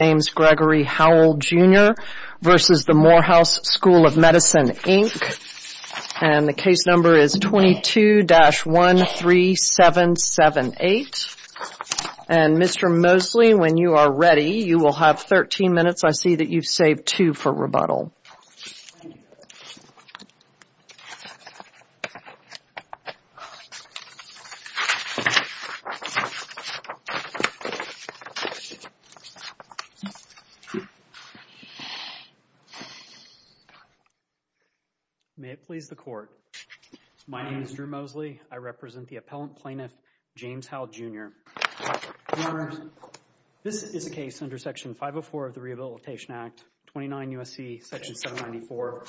And the case number is 22-13778. And Mr. Mosley, when you are ready, you will have 13 minutes. I see that you've saved two for rebuttal. May it please the Court, my name is Drew Mosley. I represent the appellant plaintiff, James Howell, Jr. Your Honors, this is a case under Section 504 of the Rehabilitation Act, 29 U.S.C. Section 794,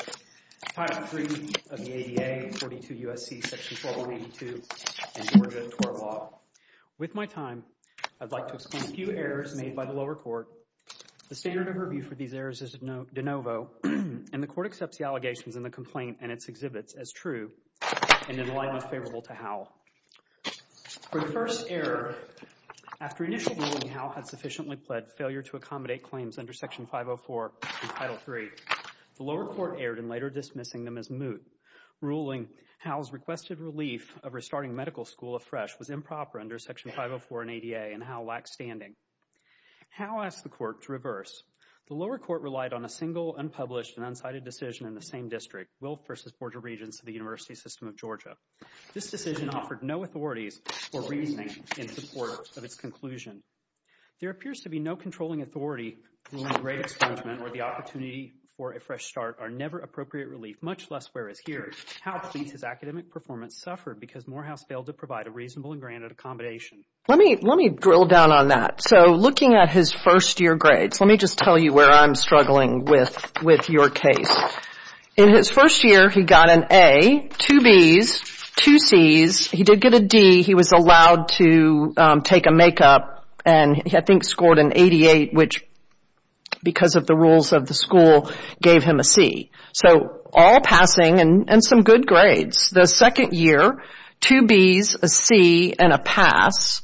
Title III of the ADA, 42 U.S.C. Section 12192 in Georgia tort law. With my time, I'd like to explain a few errors made by the lower court. The standard of review for these errors is de novo, and the Court accepts the allegations in the complaint and its exhibits as true and in alignment favorable to Howell. For the first error, after initial ruling Howell had sufficiently pled failure to accommodate claims under Section 504 and Title III, the lower court erred in later dismissing them as moot, ruling Howell's requested relief of restarting medical school afresh was improper under Section 504 and ADA, and Howell lacked standing. Howell asked the Court to reverse. The lower court relied on a single, unpublished, and unsighted decision in the same district, This decision offered no authorities or reasoning in support of its conclusion. There appears to be no controlling authority ruling a grade expungement or the opportunity for a fresh start are never appropriate relief, much less whereas here, Howell pleads his academic performance suffered because Morehouse failed to provide a reasonable and granted accommodation. Let me drill down on that. So looking at his first year grades, let me just tell you where I'm struggling with your case. In his first year, he got an A, two B's, two C's, he did get a D, he was allowed to take a make-up, and I think scored an 88, which, because of the rules of the school, gave him a C. So all passing and some good grades. The second year, two B's, a C, and a pass,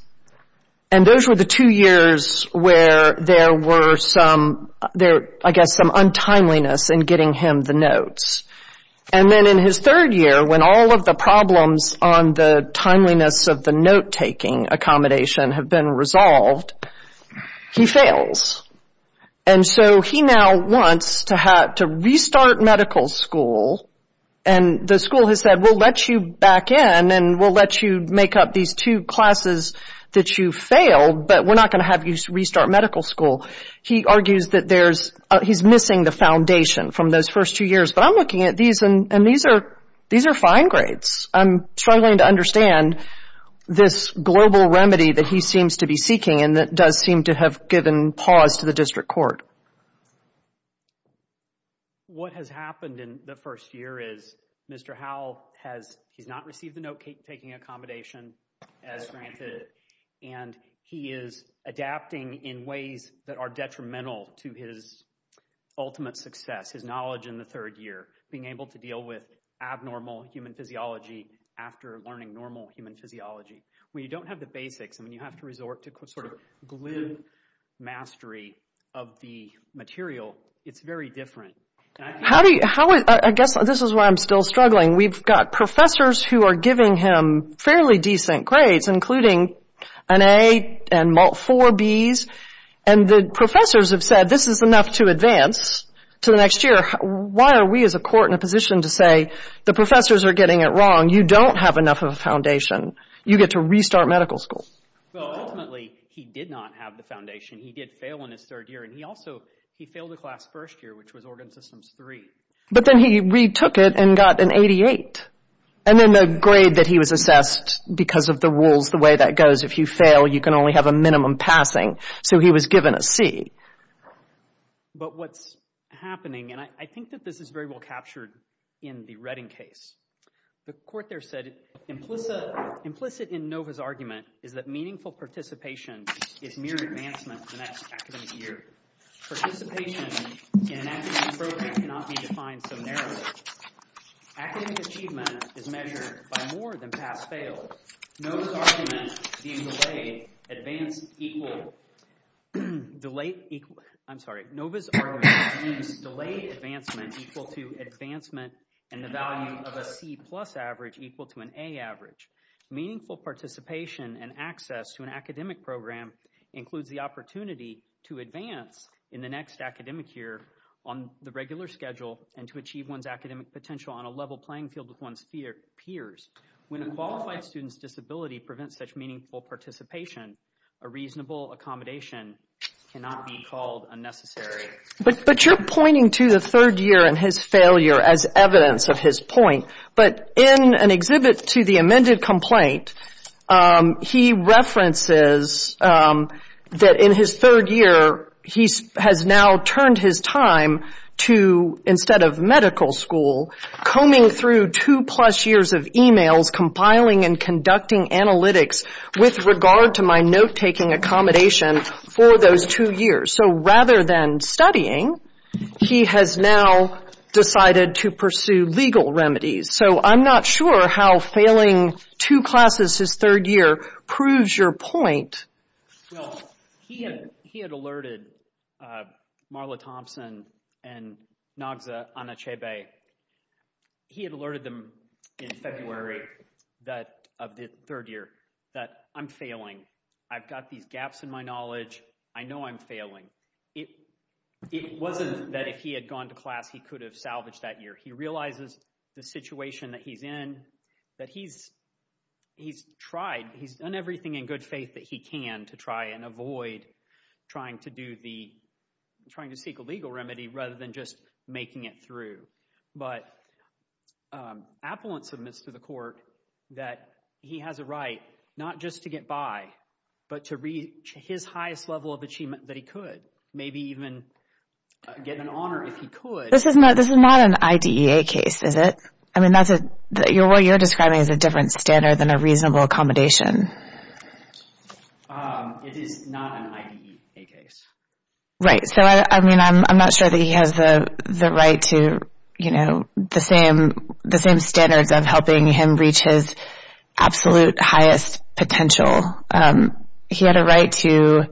and those were the two years where there were some, I guess, some untimeliness in getting him the notes. And then in his third year, when all of the problems on the timeliness of the note-taking accommodation have been resolved, he fails. And so he now wants to restart medical school, and the school has said, we'll let you back in and we'll let you make up these two classes that you failed, but we're not going to have you restart medical school. He argues that there's, he's missing the foundation from those first two years, but I'm looking at these and these are fine grades. I'm struggling to understand this global remedy that he seems to be seeking and that does seem to have given pause to the district court. What has happened in the first year is Mr. Howell has, he's not received the note-taking accommodation as granted, and he is adapting in ways that are detrimental to his ultimate success, his knowledge in the third year, being able to deal with abnormal human physiology after learning normal human physiology. When you don't have the basics, I mean, you have to resort to sort of glue mastery of the material. It's very different. How do you, I guess this is why I'm still struggling. We've got professors who are giving him fairly decent grades, including an A and four Bs, and the professors have said this is enough to advance to the next year. Why are we as a court in a position to say the professors are getting it wrong? You don't have enough of a foundation. You get to restart medical school. Well, ultimately, he did not have the foundation. He did fail in his third year, and he also, he failed the class first year, which was organ systems three. But then he retook it and got an 88, and then the grade that he was assessed, because of the rules, the way that goes, if you fail, you can only have a minimum passing. So he was given a C. But what's happening, and I think that this is very well captured in the Redding case, the court there said, implicit in Nova's argument is that meaningful participation is mere advancement to the next academic year. Participation in an academic program cannot be defined so narrowly. Academic achievement is measured by more than pass-fail. Nova's argument deems delay advancement equal to advancement and the value of a C plus average equal to an A average. Meaningful participation and access to an academic program includes the opportunity to advance in the next academic year on the regular schedule and to achieve one's academic potential on a level playing field with one's peers. When a qualified student's disability prevents such meaningful participation, a reasonable accommodation cannot be called unnecessary. But you're pointing to the third year and his failure as evidence of his point. But in an exhibit to the amended complaint, he references that in his third year, he has now turned his time to, instead of medical school, combing through two plus years of e-mails, compiling and conducting analytics with regard to my note-taking accommodation for those two years. So rather than studying, he has now decided to pursue legal remedies. So I'm not sure how failing two classes his third year proves your point. Well, he had alerted Marla Thompson and Nogza Anachebe. He had alerted them in February of the third year that I'm failing. I've got these gaps in my knowledge. I know I'm failing. It wasn't that if he had gone to class, he could have salvaged that year. He realizes the situation that he's in, that he's tried, he's done everything in good faith that he can to try and avoid trying to seek a legal remedy rather than just making it through. But Appellant submits to the court that he has a right not just to get by, but to reach his highest level of achievement that he could, maybe even get an honor if he could. This is not an IDEA case, is it? I mean, what you're describing is a different standard than a reasonable accommodation. It is not an IDEA case. Right. So, I mean, I'm not sure that he has the right to, you know, the same standards of helping him reach his absolute highest potential. He had a right to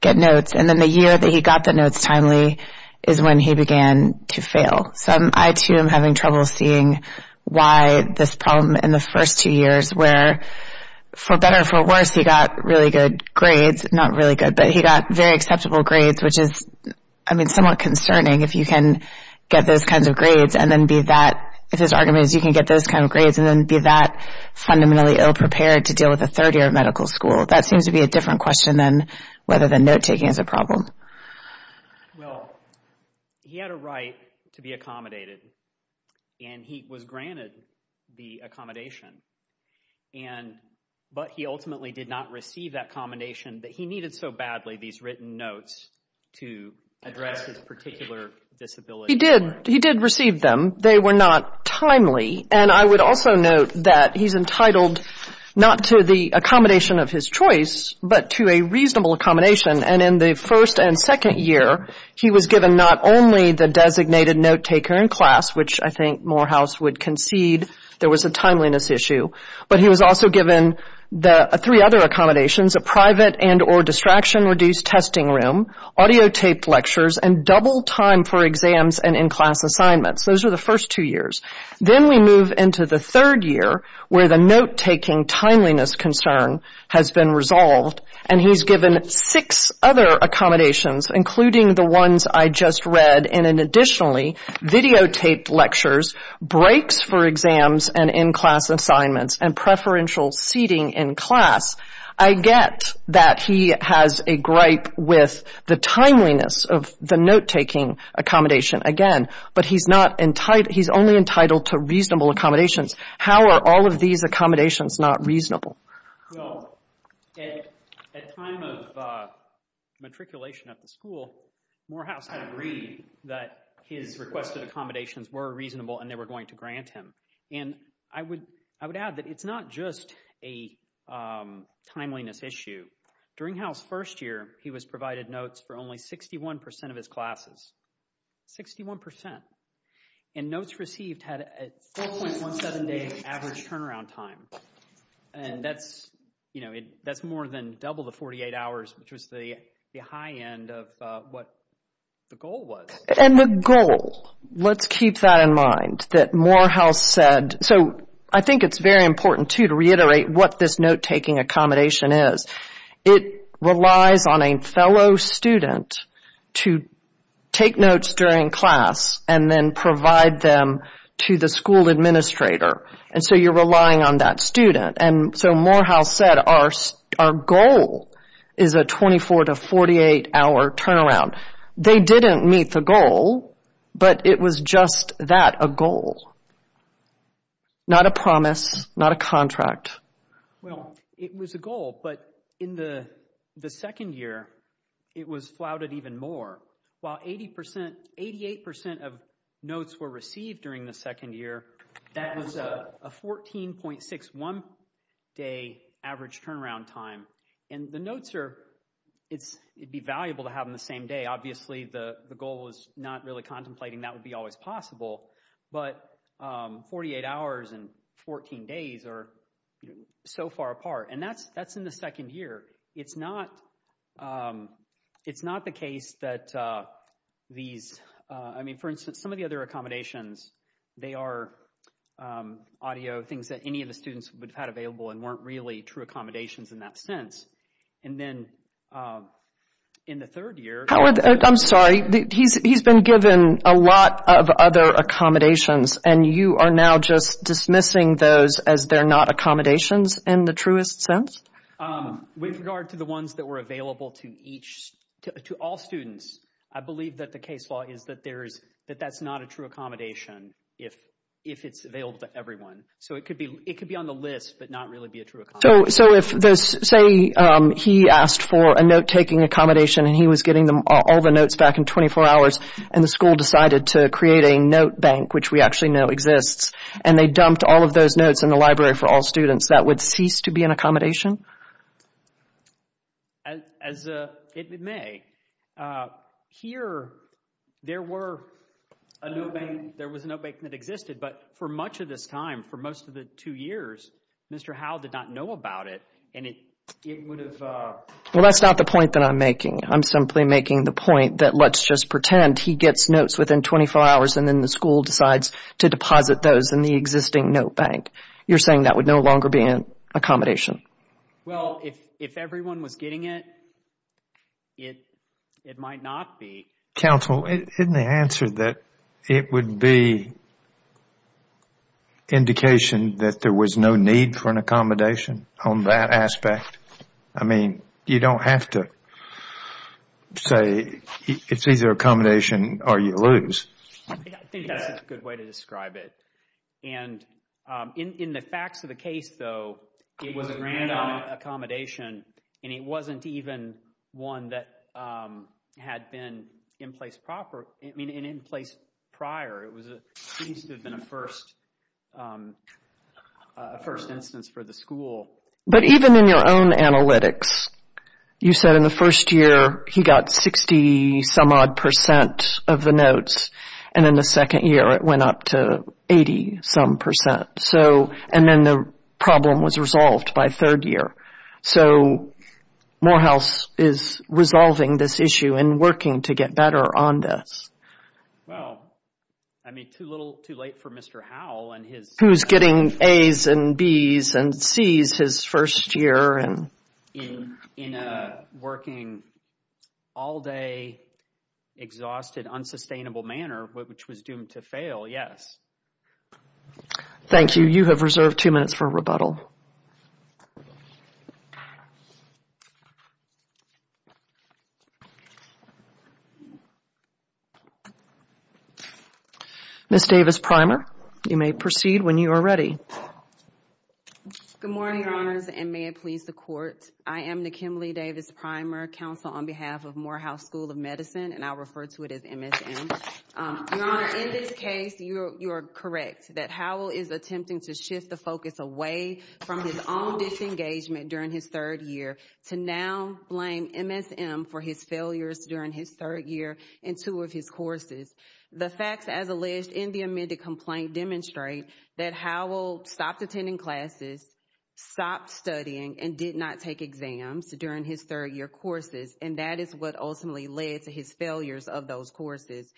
get notes. And then the year that he got the notes timely is when he began to fail. So I, too, am having trouble seeing why this problem in the first two years where, for better or for worse, he got really good grades. Not really good, but he got very acceptable grades, which is, I mean, somewhat concerning if you can get those kinds of grades and then be that, if his argument is you can get those kinds of grades and then be that fundamentally ill-prepared to deal with a third year of medical school. That seems to be a different question than whether the note-taking is a problem. Well, he had a right to be accommodated, and he was granted the accommodation. And, but he ultimately did not receive that accommodation that he needed so badly, these written notes to address his particular disability. He did. He did receive them. They were not timely. And I would also note that he's entitled not to the accommodation of his choice, but to a reasonable accommodation. And in the first and second year, he was given not only the designated note-taker in class, which I think Morehouse would concede there was a timeliness issue, but he was also given the three other accommodations, a private and or distraction-reduced testing room, audiotaped lectures, and double time for exams and in-class assignments. Those are the first two years. Then we move into the third year, where the note-taking timeliness concern has been resolved, and he's given six other accommodations, including the ones I just read, and additionally, videotaped lectures, breaks for exams and in-class assignments, and preferential seating in class. I get that he has a gripe with the timeliness of the note-taking accommodation again, but he's only entitled to reasonable accommodations. How are all of these accommodations not reasonable? Well, at time of matriculation at the school, Morehouse had agreed that his requested accommodations were reasonable and they were going to grant him. And I would add that it's not just a timeliness issue. During Howe's first year, he was provided notes for only 61% of his classes. 61%. And notes received had a 4.17 day average turnaround time, and that's, you know, that's more than double the 48 hours, which was the high end of what the goal was. And the goal, let's keep that in mind, that Morehouse said, so I think it's very important too to reiterate what this note-taking accommodation is. It relies on a fellow student to take notes during class and then provide them to the school administrator. And so you're relying on that student. And so Morehouse said, our goal is a 24 to 48 hour turnaround. They didn't meet the goal, but it was just that, a goal. Not a promise, not a contract. Well, it was a goal, but in the second year, it was flouted even more. While 88% of notes were received during the second year, that was a 14.61 day average turnaround time. And the notes are, it'd be valuable to have them the same day. Obviously, the goal was not really contemplating that would be always possible. But 48 hours and 14 days are so far apart. And that's in the second year. It's not the case that these, I mean, for instance, some of the other accommodations, they are audio things that any of the students would have had available and weren't really true accommodations in that sense. And then in the third year... Howard, I'm sorry, he's been given a lot of other accommodations and you are now just dismissing those as they're not accommodations in the truest sense? With regard to the ones that were available to each, to all students, I believe that the case law is that there is, that that's not a true accommodation if it's available to everyone. So it could be on the list, but not really be a true accommodation. So if this, say he asked for a note taking accommodation and he was getting them all the notes back in 24 hours and the school decided to create a note bank, which we actually know exists, and they dumped all of those notes in the library for all students, that would cease to be an accommodation? As it may. Here, there were a note bank, there was a note bank that existed, but for much of this time, for most of the two years, Mr. Howell did not know about it and it would have... Well, that's not the point that I'm making. I'm simply making the point that let's just pretend he gets notes within 24 hours and then the school decides to deposit those in the existing note bank. You're saying that would no longer be an accommodation? Well, if everyone was getting it, it might not be. Counsel, isn't the answer that it would be indication that there was no need for an accommodation on that aspect? I mean, you don't have to say it's either accommodation or you lose. I think that's a good way to describe it. And in the facts of the case, though, it was a random accommodation and it wasn't even one that had been in place prior. It seems to have been a first instance for the school. But even in your own analytics, you said in the first year, he got 60 some odd percent of the notes and in the second year, it went up to 80 some percent. So, and then the problem was resolved by third year. So, Morehouse is resolving this issue and working to get better on this. Well, I mean, too little too late for Mr. Howell and his... Who's getting A's and B's and C's his first year and... In a working all day, exhausted, unsustainable manner, which was doomed to fail, yes. Thank you. You have reserved two minutes for rebuttal. Ms. Davis-Primer, you may proceed when you are ready. Good morning, Your Honors, and may it please the Court. I am Nakim Lee Davis-Primer, counsel on behalf of Morehouse School of Medicine, and I'll refer to it as MSM. Your Honor, in this case, you are correct that Howell is attempting to shift the focus away from his own disengagement during his third year to now blame MSM for his failures during his third year in two of his courses. The facts, as alleged in the amended complaint, demonstrate that Howell stopped attending classes, stopped studying, and did not take exams during his third year courses. And that is what ultimately led to his failures of those courses.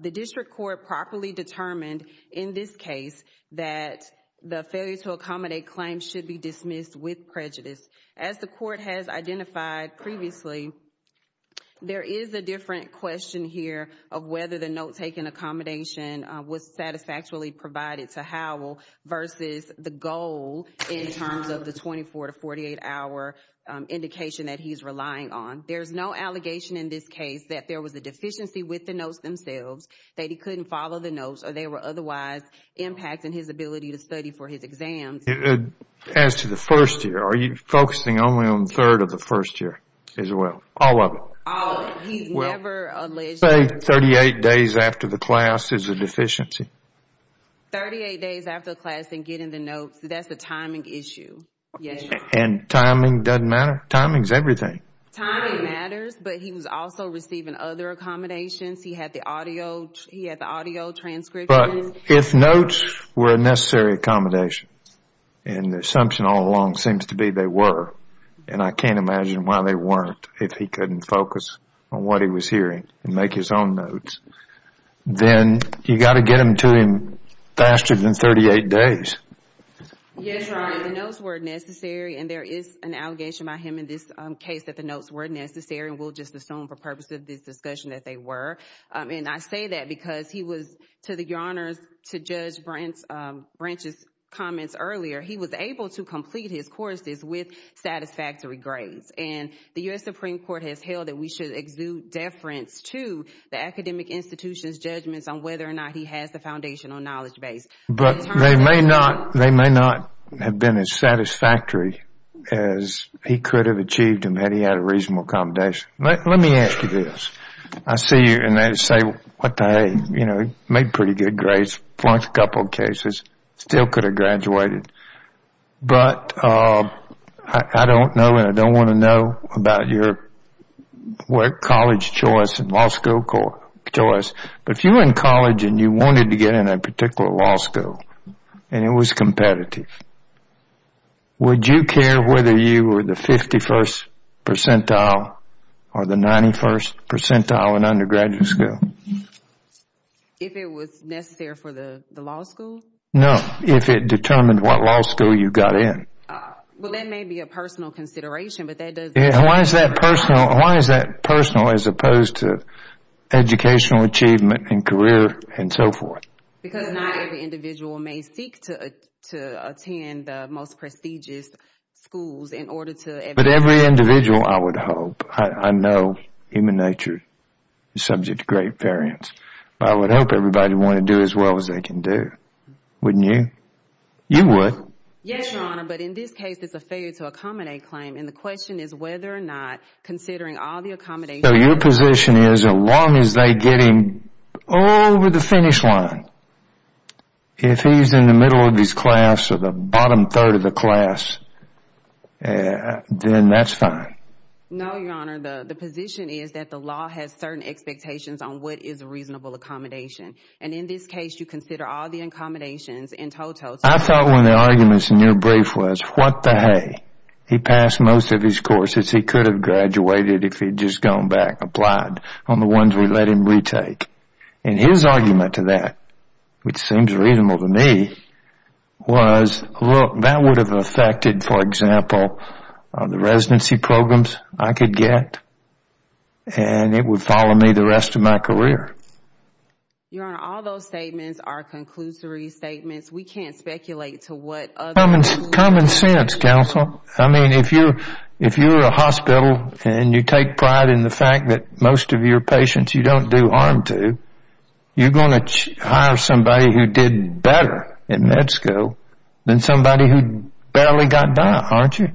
The District Court properly determined in this case that the failure to accommodate claims should be dismissed with prejudice. As the Court has identified previously, there is a different question here of whether the note-taking accommodation was satisfactorily provided to Howell versus the goal in terms of the 24 to 48-hour indication that he's relying on. There's no allegation in this case that there was a deficiency with the notes themselves, that he couldn't follow the notes, or they were otherwise impacting his ability to study for his exams. As to the first year, are you focusing only on the third of the first year as well? All of it? All of it. He's never alleged to have- Say 38 days after the class is a deficiency. 38 days after class and getting the notes, that's a timing issue. And timing doesn't matter. Timing's everything. Timing matters, but he was also receiving other accommodations. He had the audio transcription. But if notes were a necessary accommodation, and the assumption all along seems to be they were, and I can't imagine why they weren't if he couldn't focus on what he was hearing and make his own notes, then you've got to get them to him faster than 38 days. Yes, Your Honor, the notes were necessary, and there is an allegation by him in this case that the notes were necessary, and we'll just assume for purpose of this discussion that they were. And I say that because he was, to the Your Honors, to Judge Branch's comments earlier, he was able to complete his courses with satisfactory grades. And the U.S. Supreme Court has held that we should exude deference to the academic institution's judgments on whether or not he has the foundational knowledge base. But they may not have been as satisfactory as he could have achieved them had he had a reasonable accommodation. Let me ask you this. I see you, and I say, what the hey, you know, he made pretty good grades, flunked a couple cases, still could have graduated. But I don't know, and I don't want to know about your college choice and law school choice, but if you were in college and you wanted to get in a particular law school and it was competitive, would you care whether you were the 51st percentile or the 91st percentile in undergraduate school? If it was necessary for the law school? No, if it determined what law school you got in. Well, that may be a personal consideration, but that doesn't... Why is that personal? Why is that personal as opposed to educational achievement and career and so forth? Because not every individual may seek to attend the most prestigious schools in order to... But every individual, I would hope, I know human nature is subject to great variance, but I would hope everybody wanted to do as well as they can do. Wouldn't you? You would. Yes, Your Honor, but in this case, it's a failure to accommodate claim. And the question is whether or not considering all the accommodations... So your position is, as long as they get him over the finish line, if he's in the middle of his class or the bottom third of the class, then that's fine. No, Your Honor, the position is that the law has certain expectations on what is a reasonable accommodation. And in this case, you consider all the accommodations in total... I thought one of the arguments in your brief was, what the hay? He passed most of his courses. He could have graduated if he'd just gone back, applied on the ones we let him retake. And his argument to that, which seems reasonable to me, was, look, that would have affected, for example, the residency programs I could get. And it would follow me the rest of my career. Your Honor, all those statements are conclusory statements. We can't speculate to what other... Common sense, counsel. I mean, if you're a hospital and you take pride in the fact that most of your patients you don't do harm to, you're going to hire somebody who did better in med school than somebody who barely got by, aren't you?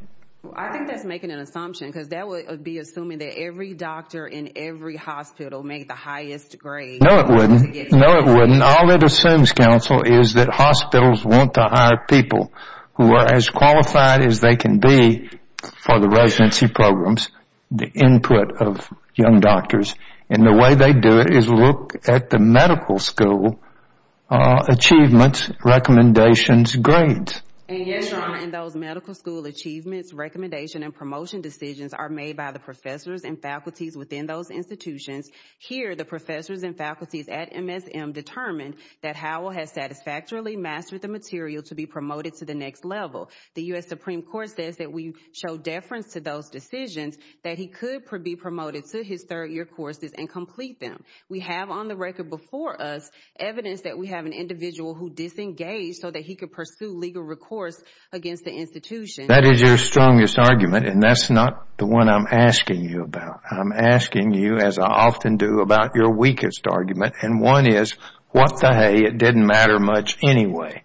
I think that's making an assumption, because that would be assuming that every doctor in every hospital made the highest grade... No, it wouldn't. No, it wouldn't. All it assumes, counsel, is that hospitals want to hire people who are as qualified as they can be for the residency programs, the input of young doctors. And the way they do it is look at the medical school achievements, recommendations, grades. And yes, Your Honor, in those medical school achievements, recommendation, and promotion decisions are made by the professors and faculties within those institutions. Here, the professors and faculties at MSM determined that Howell has satisfactorily mastered the material to be promoted to the next level. The U.S. Supreme Court says that we show deference to those decisions, that he could be promoted to his third-year courses and complete them. We have on the record before us evidence that we have an individual who disengaged so that he could pursue legal recourse against the institution. That is your strongest argument, and that's not the one I'm asking you about. I'm asking you, as I often do, about your weakest argument. And one is, what the hay, it didn't matter much anyway.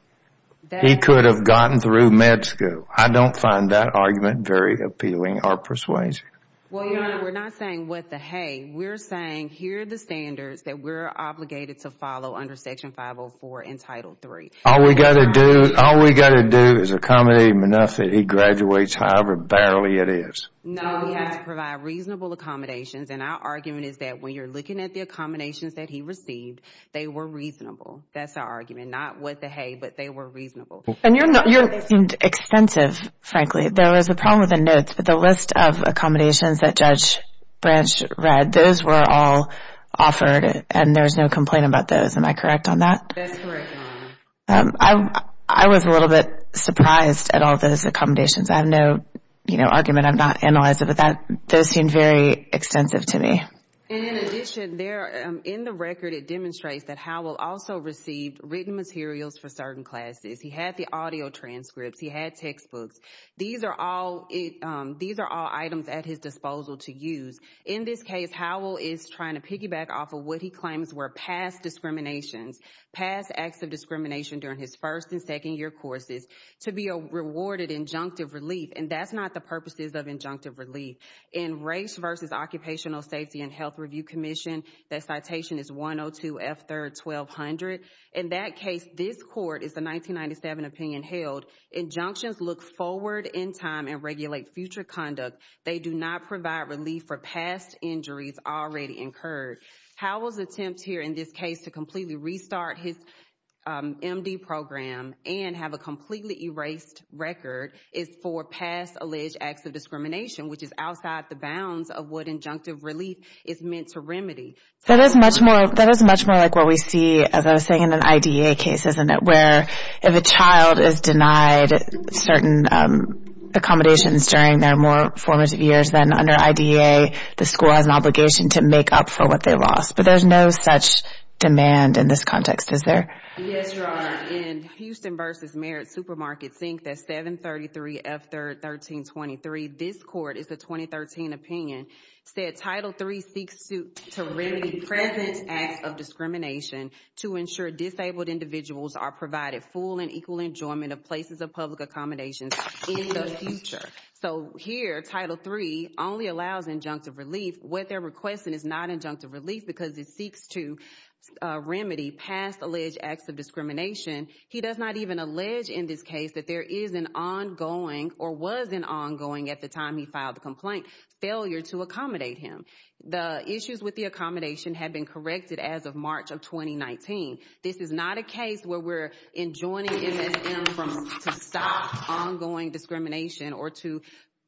He could have gotten through med school. I don't find that argument very appealing or persuasive. Well, Your Honor, we're not saying what the hay. We're saying here are the standards that we're obligated to follow under Section 504 in Title III. All we got to do is accommodate him enough that he graduates, however barely it is. No, we have to provide reasonable accommodations. And our argument is that when you're looking at the accommodations that he received, they were reasonable. That's our argument. Not what the hay, but they were reasonable. And yours seemed extensive, frankly. There was a problem with the notes, but the list of accommodations that Judge Branch read, those were all offered and there was no complaint about those. Am I correct on that? That's correct, Your Honor. I was a little bit surprised at all those accommodations. I have no argument. I've not analyzed it, but those seemed very extensive to me. And in addition, in the record, it demonstrates that Howell also received written materials for certain classes. He had the audio transcripts. He had textbooks. These are all items at his disposal to use. In this case, Howell is trying to piggyback off of what he claims were past discriminations, past acts of discrimination during his first and second year courses to be a rewarded injunctive relief. And that's not the purposes of injunctive relief. In Race vs. Occupational Safety and Health Review Commission, that citation is 102F3R1200. In that case, this court is the 1997 opinion held, injunctions look forward in time and regulate future conduct. They do not provide relief for past injuries already incurred. Howell's attempt here in this case to completely restart his MD program and have a completely erased record is for past alleged acts of discrimination, which is outside the bounds of what injunctive relief is meant to remedy. That is much more like what we see, as I was saying, in an IDEA case, isn't it? Where if a child is denied certain accommodations during their more formative years, then under IDEA, the school has an obligation to make up for what they lost. But there's no such demand in this context, is there? Yes, Your Honor. In Houston vs. Merit Supermarket, seeing that 733F1323, this court is the 2013 opinion, said Title III seeks to remedy present acts of discrimination to ensure disabled individuals are provided full and equal enjoyment of places of public accommodations in the future. So here, Title III only allows injunctive relief. What they're requesting is not injunctive relief because it seeks to This is not a case where we're enjoining MSM to stop ongoing discrimination or to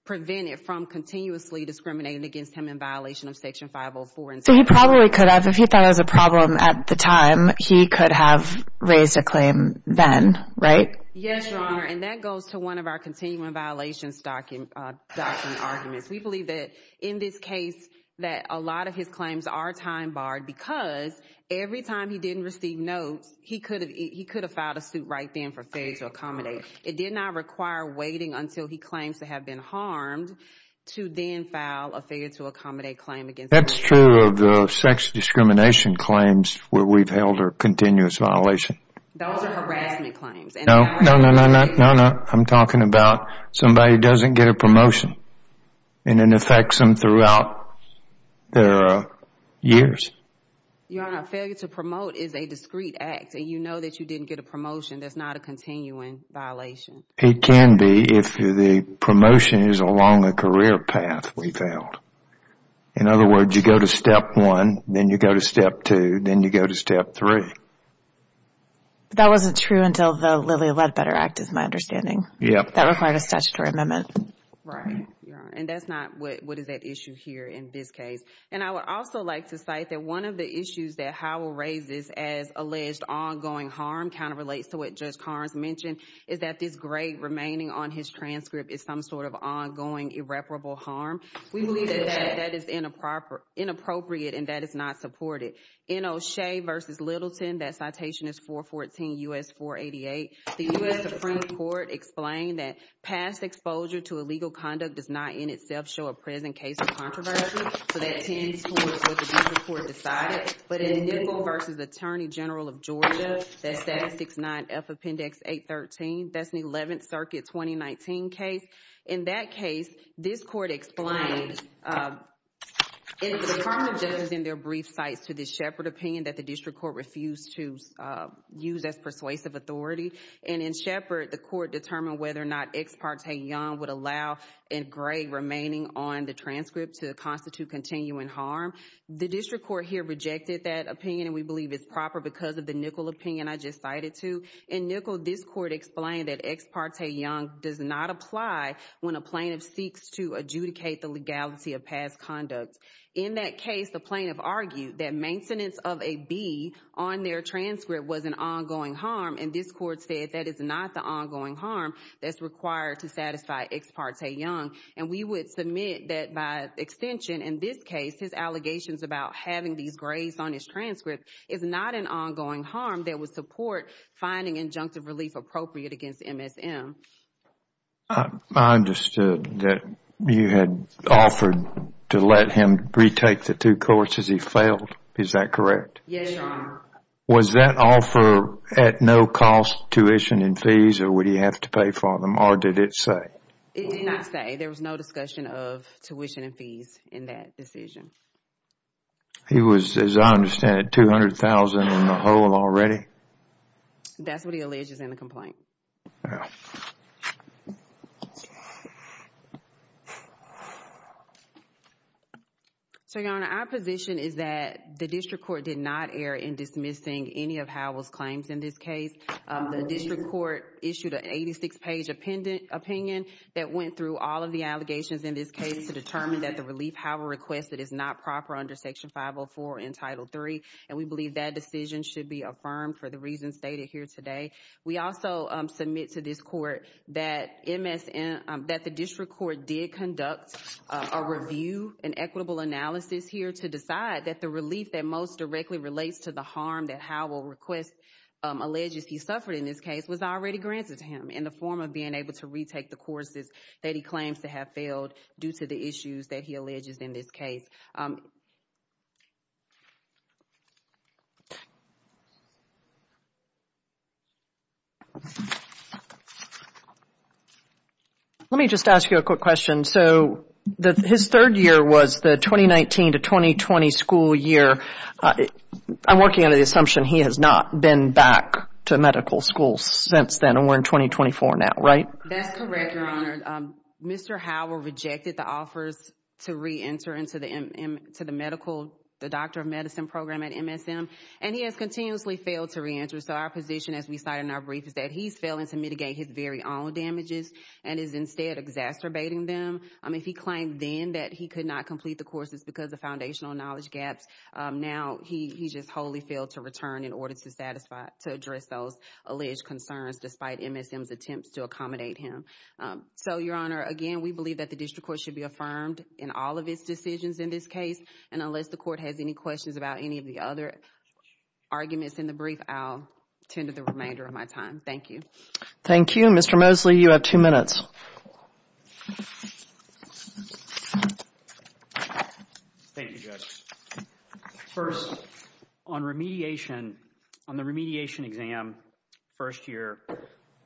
prevent it from continuously discriminating against him in violation of Section 504. So he probably could have, if he thought it was a problem at the time, he could have raised a claim then, right? Yes, Your Honor. And that goes to one of our continuing violations document arguments. We believe that in this case, that a lot of his claims are time barred because every time he didn't receive notes, he could have filed a suit right then for failure to accommodate. It did not require waiting until he claims to have been harmed to then file a failure to accommodate claim against him. That's true of the sex discrimination claims where we've held our continuous violation. Those are harassment claims. No, no, no, no, no, no. I'm talking about somebody doesn't get a promotion and it affects them throughout their years. Your Honor, failure to promote is a discreet act. And you know that you didn't get a promotion. That's not a continuing violation. It can be if the promotion is along the career path we've held. In other words, you go to step one, then you go to step two, then you go to step three. That wasn't true until the Lilly Ledbetter Act is my understanding. Yep. That required a statutory amendment. Right, Your Honor. And that's not what is at issue here in this case. And I would also like to cite that one of the issues that Howell raises as alleged ongoing harm kind of relates to what Judge Carnes mentioned is that this gray remaining on his transcript is some sort of ongoing irreparable harm. We believe that that is inappropriate and that is not supported. In O'Shea v. Littleton, that citation is 414 U.S. 488. The U.S. Supreme Court explained that past exposure to illegal conduct does not in itself show a present case of controversy. So that tends towards what the district court decided. But in Nicol v. Attorney General of Georgia, that Statute 69F Appendix 813, that's an 11th Circuit 2019 case. In that case, this court explained, in the brief cites to the Shepard opinion that the district court refused to use as persuasive authority. And in Shepard, the court determined whether or not Ex parte Young would allow a gray remaining on the transcript to constitute continuing harm. The district court here rejected that opinion. And we believe it's proper because of the Nicol opinion I just cited too. In Nicol, this court explained that Ex parte Young does not apply when a plaintiff seeks to adjudicate the legality of past conduct. In that case, the plaintiff argued that maintenance of a B on their transcript was an ongoing harm. And this court said that is not the ongoing harm that's required to satisfy Ex parte Young. And we would submit that by extension, in this case, his allegations about having these grays on his transcript is not an ongoing harm that would support finding injunctive relief appropriate against MSM. I understood that you had offered to let him retake the two courses. He failed. Is that correct? Was that offer at no cost tuition and fees? Or would he have to pay for them? Or did it say? It did not say. There was no discussion of tuition and fees in that decision. He was, as I understand it, $200,000 in the hole already? That's what he alleges in the complaint. So, Your Honor, our position is that the district court did not err in dismissing any of Howell's claims in this case. The district court issued an 86-page opinion that went through all of the allegations in this case to determine that the relief Howell requested is not proper under Section 504 in Title III. And we believe that decision should be affirmed for the reasons stated here today. We also submit to this court that MSM, that the district court did conduct a review, an equitable analysis here to decide that the relief that most directly relates to the harm that Howell requests, alleges he suffered in this case, was already granted to him in the to have failed due to the issues that he alleges in this case. Let me just ask you a quick question. So, his third year was the 2019 to 2020 school year. I'm working under the assumption he has not been back to medical school since then. And we're in 2024 now, right? That's correct, Your Honor. Mr. Howell rejected the offers to re-enter into the medical, the doctor of medicine program at MSM. And he has continuously failed to re-enter. So, our position as we cite in our brief is that he's failing to mitigate his very own damages and is instead exacerbating them. If he claimed then that he could not complete the courses because of foundational knowledge gaps, now he just wholly failed to return in order to satisfy, to address those alleged concerns despite MSM's attempts to accommodate him. So, Your Honor, again, we believe that the district court should be affirmed in all of its decisions in this case. And unless the court has any questions about any of the other arguments in the brief, I'll tend to the remainder of my time. Thank you. Thank you. Mr. Mosley, you have two minutes. Thank you, Judge. First, on remediation, on the remediation exam first year,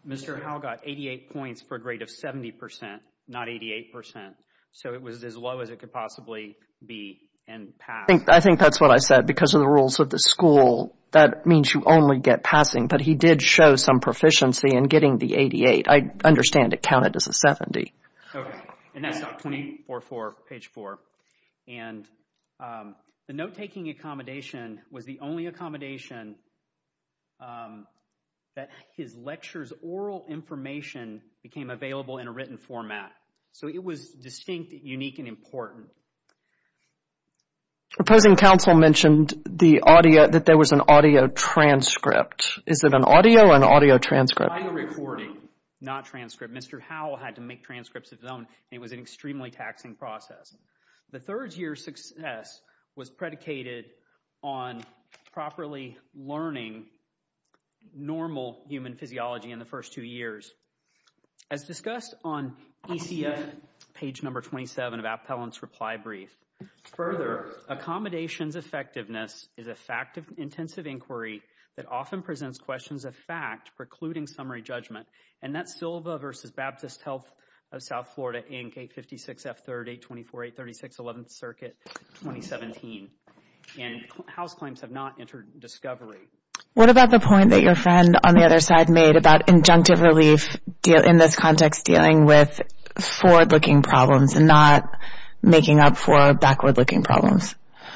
Mr. Howell got 88 points for a grade of 70 percent, not 88 percent. So, it was as low as it could possibly be and passed. I think that's what I said. Because of the rules of the school, that means you only get passing. But he did show some proficiency in getting the 88. I understand it counted as a 70. Okay. And that's 24-4, page 4. And the note-taking accommodation was the only accommodation that his lecture's oral information became available in a written format. So, it was distinct, unique, and important. Proposing counsel mentioned the audio, that there was an audio transcript. Is it an audio or an audio transcript? Audio recording, not transcript. Mr. Howell had to make transcripts of his own. It was an extremely taxing process. The third year's success was predicated on properly learning normal human physiology in the first two years. As discussed on ECF, page number 27 of Appellant's reply brief. Further, accommodations effectiveness is a fact of intensive inquiry that often presents questions of fact precluding summary judgment. And that's Silva v. Baptist Health of South Florida, Inc., 856F3824836, 11th Circuit, 2017. And Howell's claims have not entered discovery. What about the point that your friend on the other side made about injunctive relief in this context dealing with forward-looking problems and not making up for backward-looking problems?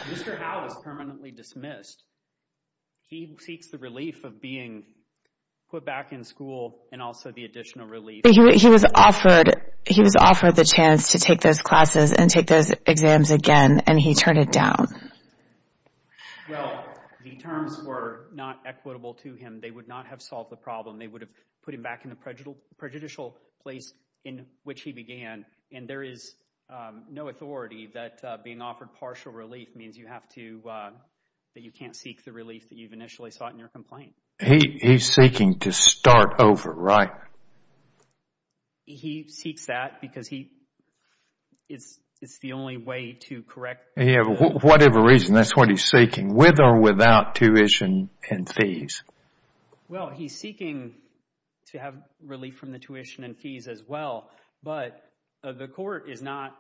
Mr. Howell is permanently dismissed. He seeks the relief of being put back in school and also the additional relief. He was offered the chance to take those classes and take those exams again, and he turned it down. Well, the terms were not equitable to him. They would not have solved the problem. They would have put him back in a prejudicial place in which he began. And there is no authority that being offered partial relief means you have to, that you can't seek the relief that you've initially sought in your complaint. He's seeking to start over, right? He seeks that because he, it's the only way to correct. Whatever reason, that's what he's seeking, with or without tuition and fees. Well, he's seeking to have relief from the tuition and fees as well. But the court is not,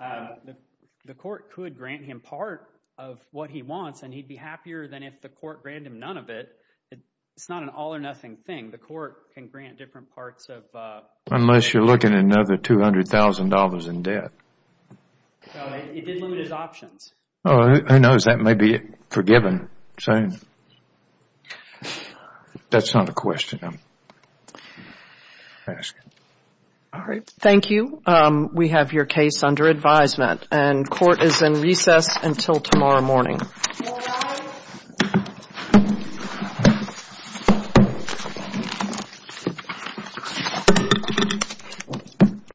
the court could grant him part of what he wants and he'd be happier than if the court granted him none of it. It's not an all or nothing thing. The court can grant different parts of. Unless you're looking at another $200,000 in debt. So it did limit his options. Oh, who knows? That may be forgiven soon. That's not a question I'm asking. All right. Thank you. We have your case under advisement. And court is in recess until tomorrow morning.